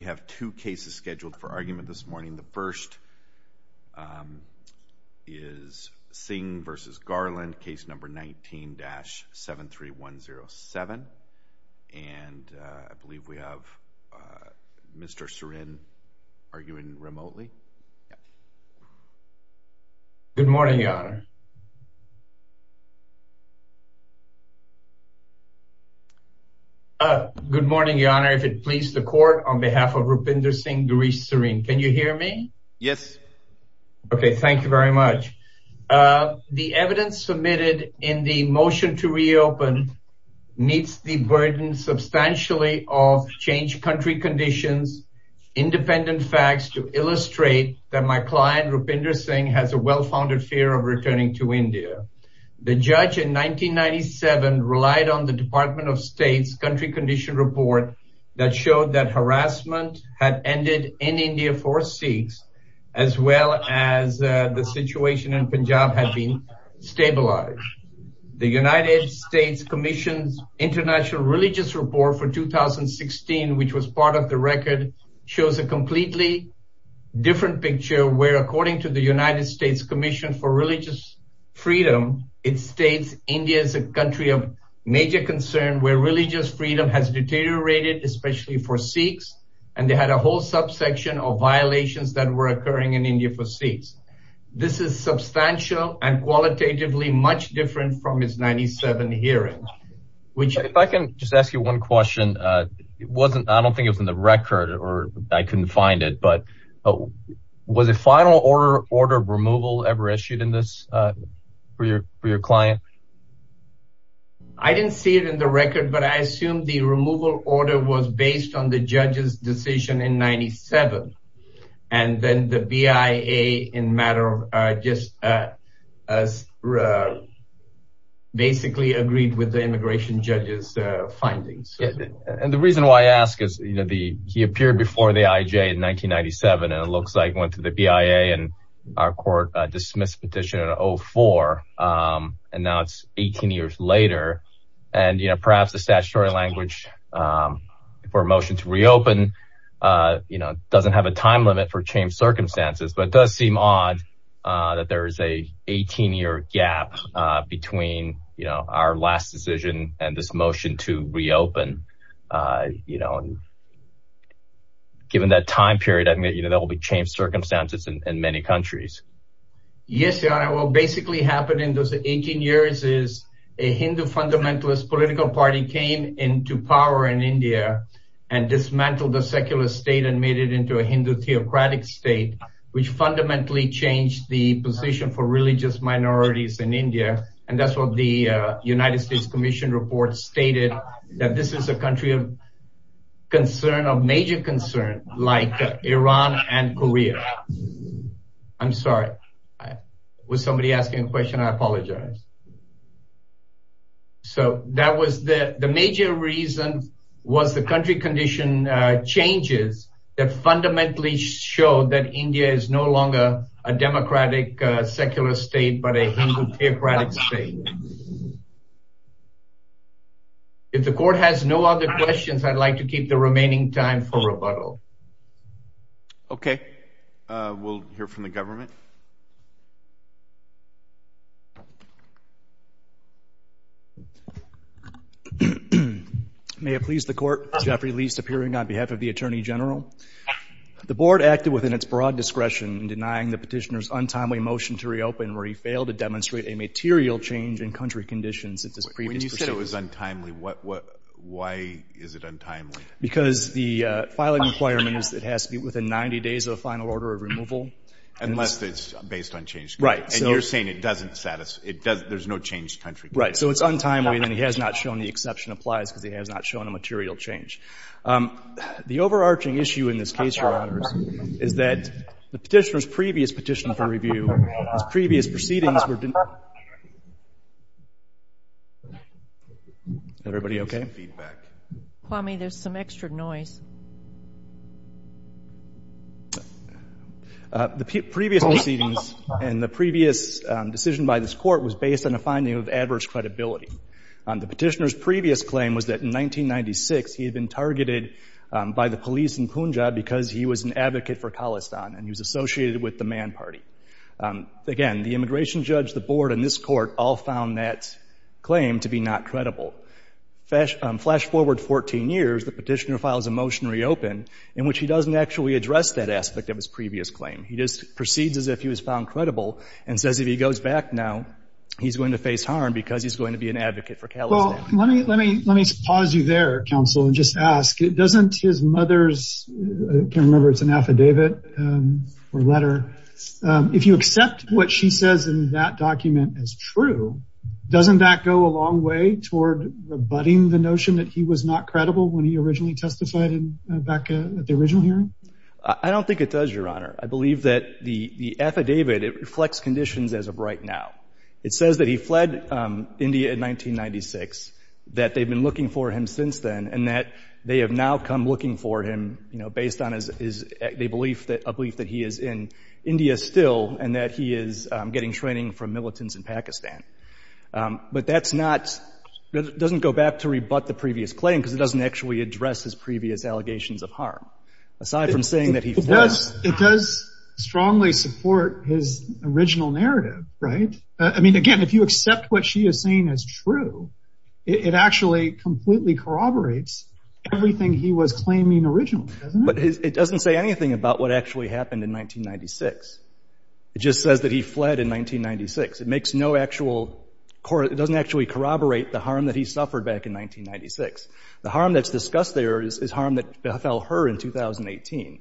We have two cases scheduled for argument this morning. The first is Singh v. Garland, case number 19-73107, and I believe we have Mr. Srin arguing remotely. The evidence submitted in the motion to reopen meets the burden substantially of changed country conditions, independent facts to illustrate that my client Rupinder Singh has a well-founded fear of returning to India. The judge in 1997 relied on the Department of State's country condition report that showed that harassment had ended in India for Sikhs, as well as the situation in Punjab had been stabilized. The United States Commission's International Religious Report for 2016, which was part of the record, shows a completely different picture where according to the United States Commission for Religious Freedom, it states India is a country of major concern where religious freedom has deteriorated, especially for Sikhs, and they had a whole subsection of violations that were occurring in India for Sikhs. This is substantial and qualitatively much different from his 97 hearings. If I can just ask you one question. I don't think it was in the record or I couldn't find it, but was a final order of removal ever issued for your client? I didn't see it in the record, but I assume the removal order was based on the judge's findings. The reason why I ask is he appeared before the IJ in 1997 and it looks like he went to the BIA and our court dismissed the petition in 2004, and now it's 18 years later. Perhaps the statutory language for a motion to reopen doesn't have a time limit for changed circumstances, but it does seem odd that there is an 18-year gap between our last decision and this motion to reopen. Given that time period, that will be changed circumstances in many countries. Yes, Your Honor. What basically happened in those 18 years is a Hindu fundamentalist political party came into power in India and dismantled the secular state and made it into Hindu theocratic state, which fundamentally changed the position for religious minorities in India. That's what the United States Commission report stated, that this is a country of concern, of major concern, like Iran and Korea. I'm sorry. Was somebody asking a question? I apologize. So, that was the major reason was the country condition changes that fundamentally showed that India is no longer a democratic secular state, but a Hindu theocratic state. If the court has no other questions, I'd like to keep the remaining time for rebuttal. Okay. We'll hear from the government. May it please the court. Geoffrey Leist, appearing on behalf of the Attorney General. The board acted within its broad discretion in denying the petitioner's untimely motion to reopen where he failed to demonstrate a material change in country conditions at this previous proceeding. When you say it was untimely, why is it untimely? Because the filing requirements, it has to be within 90 days of the final order of removal. Unless it's based on changed conditions. And you're saying it doesn't satisfy, there's no changed country conditions. Right. So, it's untimely and he has not shown the exception applies because he has not shown a material change. The overarching issue in this case, Your Honors, is that the petitioner's previous petition for review, his previous proceedings were denied. Everybody okay? Kwame, there's some extra noise. The previous proceedings and the previous decision by this court was based on a finding of adverse credibility. The petitioner's previous claim was that in 1996, he had been targeted by the police in Punjab because he was an advocate for Khalistan and he was associated with the Man Party. Again, the immigration judge, the board, and this court all found that the petitioner files a motion reopen in which he doesn't actually address that aspect of his previous claim. He just proceeds as if he was found credible and says if he goes back now, he's going to face harm because he's going to be an advocate for Khalistan. Well, let me pause you there, counsel, and just ask, doesn't his mother's, I can't remember if it's an affidavit or letter, if you accept what she says in that document as doesn't that go a long way toward abutting the notion that he was not credible when he originally testified back at the original hearing? I don't think it does, Your Honor. I believe that the affidavit, it reflects conditions as of right now. It says that he fled India in 1996, that they've been looking for him since then, and that they have now come looking for him based on a belief that he is in India still and that he is getting training from but that's not, it doesn't go back to rebut the previous claim because it doesn't actually address his previous allegations of harm. Aside from saying that he fled. It does strongly support his original narrative, right? I mean, again, if you accept what she is saying as true, it actually completely corroborates everything he was claiming originally, doesn't it? It doesn't say anything about what actually happened in 1996. It just says that he fled in 1996. It makes no actual, it doesn't actually corroborate the harm that he suffered back in 1996. The harm that's discussed there is harm that fell her in 2018.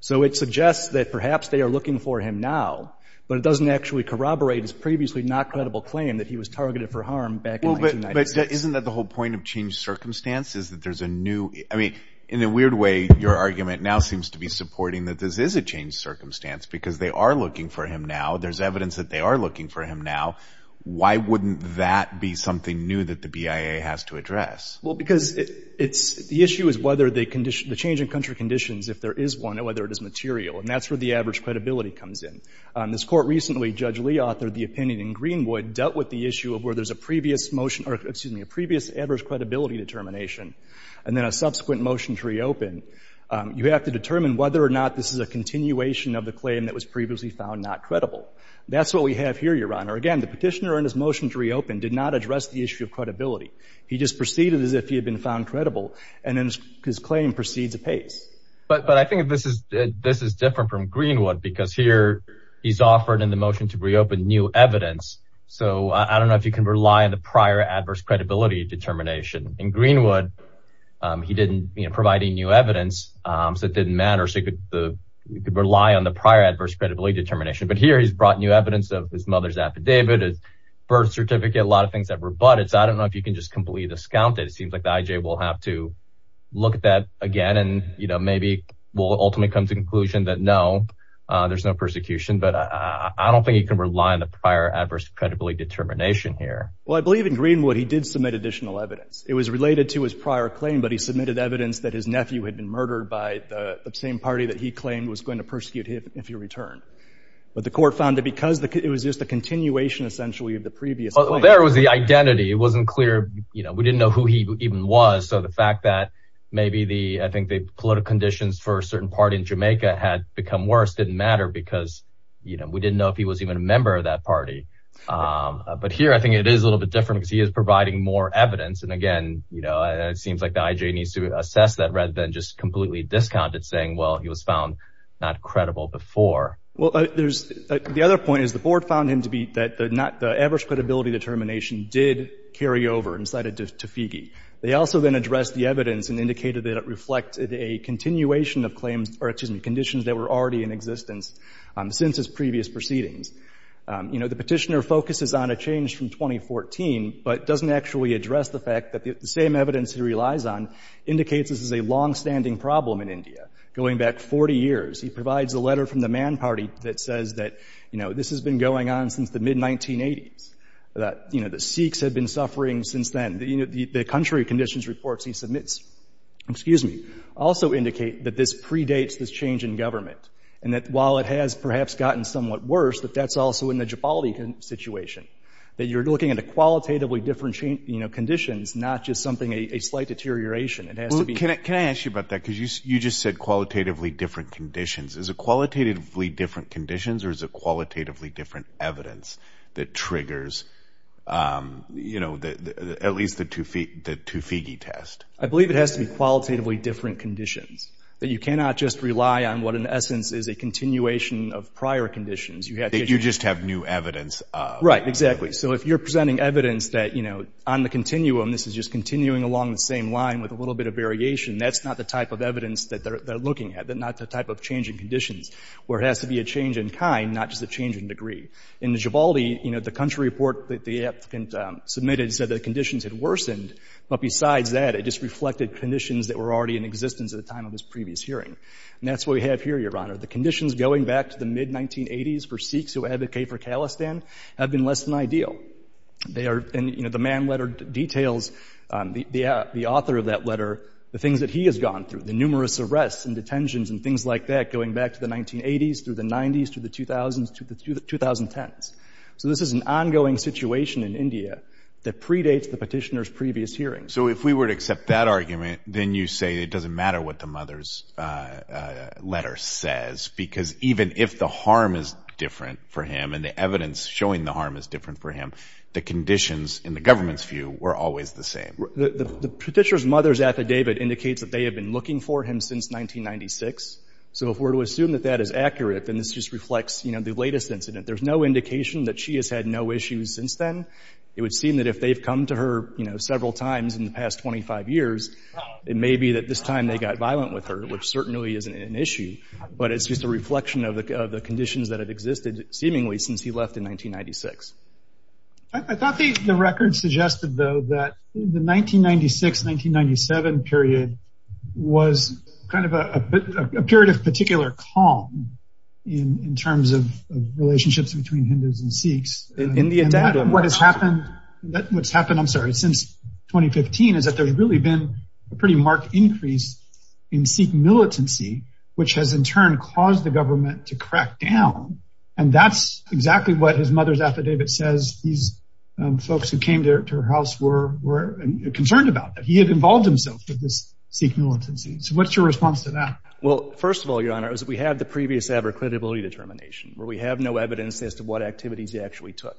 So it suggests that perhaps they are looking for him now, but it doesn't actually corroborate his previously not credible claim that he was targeted for harm back in 1996. But isn't that the whole point of changed circumstances, that there's a new, I mean, in a weird way, your argument now seems to be supporting that this is a changed circumstance because they are looking for him now. There's evidence that they are looking for him now. Why wouldn't that be something new that the BIA has to address? Well, because it's, the issue is whether the condition, the change in country conditions, if there is one and whether it is material, and that's where the average credibility comes in. This court recently, Judge Lee authored the opinion in Greenwood, dealt with the issue of where there's a previous motion, or excuse me, a previous average credibility determination, and then a subsequent motion to reopen. You have to determine whether or not this is a continuation of the claim that was previously found not credible. That's what we have here, Your Honor. Again, the petitioner in his motion to reopen did not address the issue of credibility. He just proceeded as if he had been found credible, and then his claim proceeds apace. But I think this is different from Greenwood, because here he's offered in the motion to reopen new evidence. So I don't know if you can rely on the prior adverse credibility determination. In Greenwood, he didn't provide new evidence, so it didn't matter. So he could rely on the prior adverse credibility determination. But here he's brought new evidence of his mother's affidavit, his birth certificate, a lot of things that were butted. So I don't know if you can just completely discount it. It seems like the IJ will have to look at that again, and maybe will ultimately come to the conclusion that no, there's no persecution. But I don't think you can rely on the prior adverse credibility determination here. Well, I believe in Greenwood, he did submit additional evidence. It was related to his prior claim, but he submitted evidence that his nephew had been murdered by the same party that he claimed was going to persecute him if he returned. But the court found that because it was just a continuation, essentially, of the previous claim. Well, there was the identity. It wasn't clear, you know, we didn't know who he even was. So the fact that maybe the, I think, the political conditions for a certain party in Jamaica had become worse didn't matter because, you know, we didn't know if he was even a member of that party. But here, I think it is a little bit different because he is providing more evidence. And again, you know, it seems like the IJ needs to assess that rather than just completely discount it, saying, well, he was found not credible before. Well, there's, the other point is the board found him to be, that the not, the adverse credibility determination did carry over and cited to Feige. They also then addressed the evidence and indicated that it reflected a continuation of claims, or excuse me, conditions that were already in existence since his previous proceedings. You know, the Petitioner focuses on a change from 2014, but doesn't actually address the fact that the same evidence he relies on indicates this is a longstanding problem in India. Going back 40 years, he provides a letter from the Mann Party that says that, you know, this has been going on since the mid-1980s. That, you know, the Sikhs had been suffering since then. The country conditions reports he submits, excuse me, also indicate that this is worse, but that's also in the Jabali situation. That you're looking at a qualitatively different, you know, conditions, not just something, a slight deterioration. It has to be- Well, can I ask you about that? Because you just said qualitatively different conditions. Is it qualitatively different conditions or is it qualitatively different evidence that triggers, you know, at least the two Feige test? I believe it has to be qualitatively different conditions. That you cannot just rely on what in essence is a continuation of prior conditions. You have to- That you just have new evidence of- Right, exactly. So if you're presenting evidence that, you know, on the continuum, this is just continuing along the same line with a little bit of variation, that's not the type of evidence that they're looking at, not the type of change in conditions, where it has to be a change in kind, not just a change in degree. In the Jabali, you know, the country report that the applicant submitted said that conditions had worsened, but besides that, it just reflected conditions that were already in existence at the time of previous hearing. And that's what we have here, Your Honor. The conditions going back to the mid-1980s for Sikhs who advocate for Khalistan have been less than ideal. They are- And, you know, the man letter details, the author of that letter, the things that he has gone through, the numerous arrests and detentions and things like that going back to the 1980s through the 90s to the 2000s to the 2010s. So this is an ongoing situation in India that predates the petitioner's previous hearing. So if we were to accept that argument, then you say it doesn't matter what the mother's letter says, because even if the harm is different for him and the evidence showing the harm is different for him, the conditions in the government's view were always the same? The petitioner's mother's affidavit indicates that they have been looking for him since 1996. So if we're to assume that that is accurate, then this just reflects, you know, the latest incident. There's no indication that she has had no issues since then. It would seem that if they've to her, you know, several times in the past 25 years, it may be that this time they got violent with her, which certainly isn't an issue. But it's just a reflection of the conditions that have existed seemingly since he left in 1996. I thought the record suggested, though, that the 1996-1997 period was kind of a period of particular calm in terms of relationships between Hindus and Sikhs. And what has happened, I'm sorry, since 2015 is that there's really been a pretty marked increase in Sikh militancy, which has in turn caused the government to crack down. And that's exactly what his mother's affidavit says. These folks who came to her house were concerned about that. He had involved himself with this Sikh militancy. So what's your response to that? Well, first of all, Your Honor, is that we have the previous abrogatability determination, where we have no evidence as to what activities he actually took.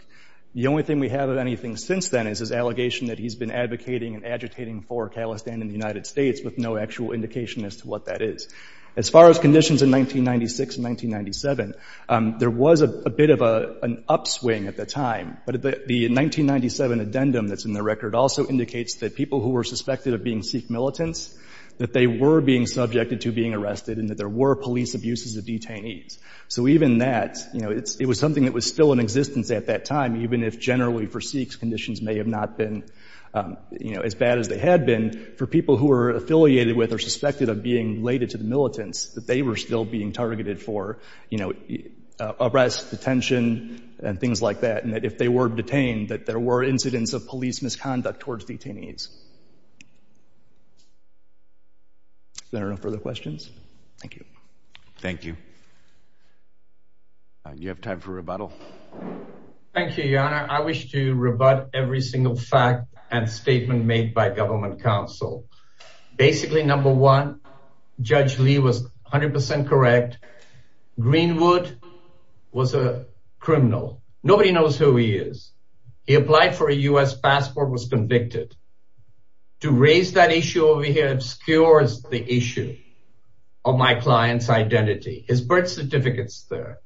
The only thing we have of anything since then is his allegation that he's been advocating and agitating for Kalestan in the United States with no actual indication as to what that is. As far as conditions in 1996 and 1997, there was a bit of an upswing at the time. But the 1997 addendum that's in the record also indicates that people who were suspected of being Sikh militants, that they were being subjected to arrested and that there were police abuses of detainees. So even that, it was something that was still in existence at that time, even if generally for Sikhs conditions may have not been as bad as they had been, for people who were affiliated with or suspected of being related to the militants, that they were still being targeted for arrest, detention, and things like that. And that if they were detained, that there were incidents of police misconduct towards detainees. Is there no further questions? Thank you. Thank you. You have time for rebuttal. Thank you, Your Honor. I wish to rebut every single fact and statement made by government counsel. Basically, number one, Judge Lee was 100% correct. Greenwood was a criminal. Nobody knows who he is. He applied for a U.S. passport, was convicted. To raise that issue over here obscures the issue of my client's identity. His birth certificate's there.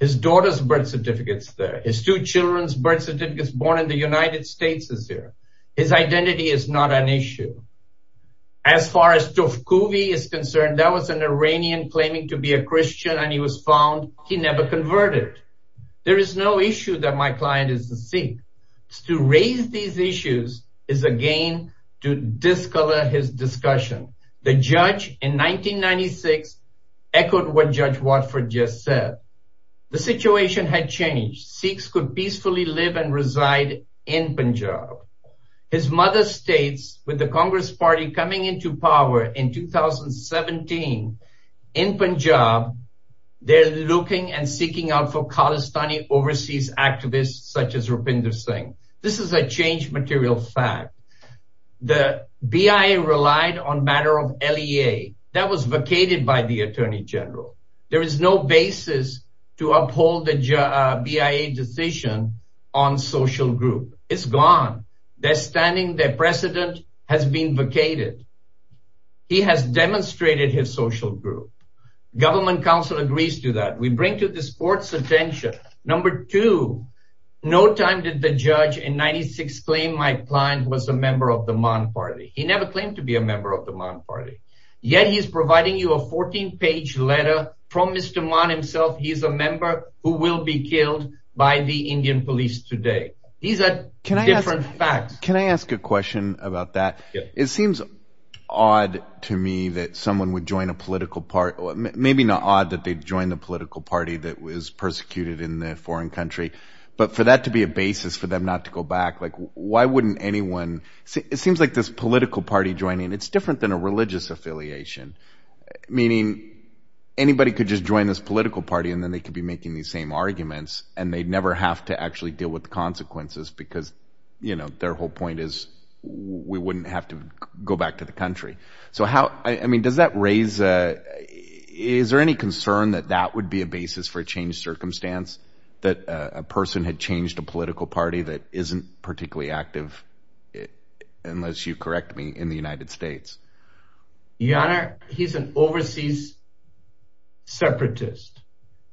His daughter's birth certificate's there. His two children's birth certificate's born in the United States is there. His identity is not an issue. As far as Tovkovi is concerned, that was an Iranian claiming to be a Christian, and he was found. He never converted. There is no issue that my client is a Sikh. To raise these issues is, again, to discolor his discussion. The judge in 1996 echoed what Judge Watford just said. The situation had changed. Sikhs could peacefully live and reside in Punjab. His mother states with the Congress Party coming into power in 2017 in Punjab, they're looking and seeking out for Pakistani overseas activists such as Rupinder Singh. This is a change material fact. The BIA relied on matter of LEA. That was vacated by the Attorney General. There is no basis to uphold the BIA decision on social group. It's gone. Their standing, their precedent has been vacated. He has demonstrated his social group. Government counsel agrees to that. We bring to this court's attention, number two, no time did the judge in 1996 claim my client was a member of the Mann Party. He never claimed to be a member of the from Mr. Mann himself. He's a member who will be killed by the Indian police today. These are different facts. Can I ask a question about that? It seems odd to me that someone would join a political party. Maybe not odd that they joined the political party that was persecuted in the foreign country, but for that to be a basis for them not to go back, why wouldn't anyone? It seems like this political party joining, it's different than a religious affiliation, meaning anybody could just join this political party and then they could be making these same arguments and they'd never have to actually deal with the consequences because their whole point is we wouldn't have to go back to the country. Is there any concern that that would be a basis for a changed circumstance that a person had changed a political party that isn't particularly active, unless you correct me, in the United States? Your Honor, he's an overseas separatist.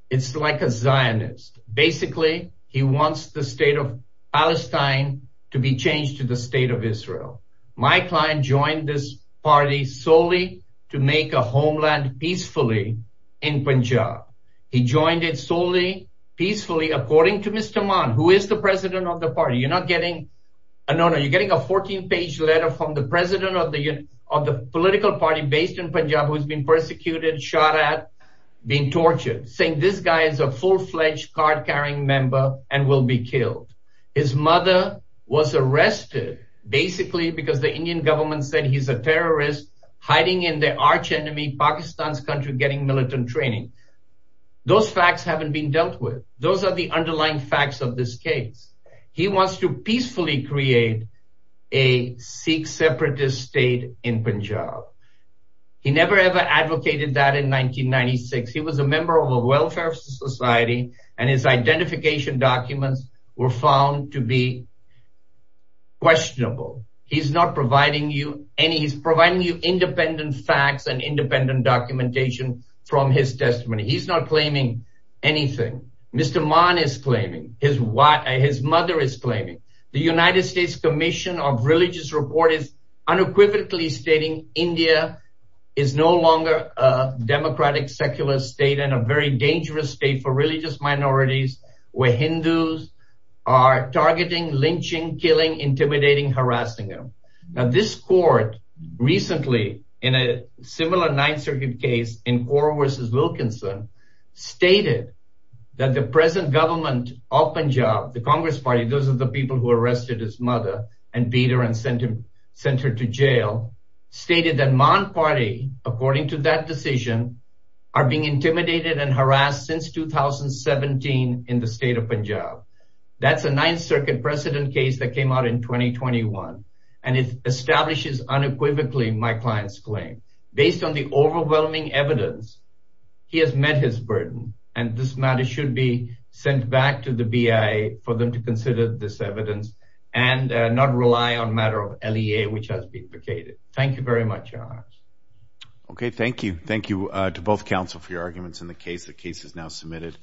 It's like a Zionist. Basically, he wants the state of Palestine to be changed to the state of Israel. My client joined this party solely to make a homeland peacefully in Punjab. He joined it solely peacefully according to Mr. Mann, who is the president of the party. You're not getting a 14-page letter from the president of the political party based in Punjab, who's been persecuted, shot at, being tortured, saying this guy is a full-fledged card-carrying member and will be killed. His mother was arrested basically because the Indian government said he's a terrorist hiding in the arch enemy, Pakistan's country, getting militant training. Those facts haven't been dealt with. Those are the underlying facts of this case. He wants to peacefully create a Sikh separatist state in Punjab. He never ever advocated that in 1996. He was a member of a welfare society and his identification documents were found to be questionable. He's not providing you any. He's providing you independent facts and independent documentation from his testimony. He's not claiming anything. Mr. Mann is claiming his mother is claiming. The United States Commission of Religious Report is unequivocally stating India is no longer a democratic secular state and a very dangerous state for religious minorities where Hindus are targeting, lynching, killing, intimidating, harassing them. Now this court recently in a similar Ninth Circuit case in Cora versus Wilkinson stated that the present government of Punjab, the Congress party, those are the people who arrested his mother and beat her and sent her to jail, stated that Mann party, according to that decision, are being intimidated and harassed since 2017 in the state of Punjab. That's a Ninth Circuit precedent case that came out in 2021 and it establishes unequivocally my client's claim. Based on the overwhelming evidence, he has met his burden and this matter should be sent back to the BIA for them to consider this evidence and not rely on matter of LEA which has been vacated. Thank you very much, Your Honor. Okay, thank you. Thank you to both counsel for your arguments in the case. The case is now submitted.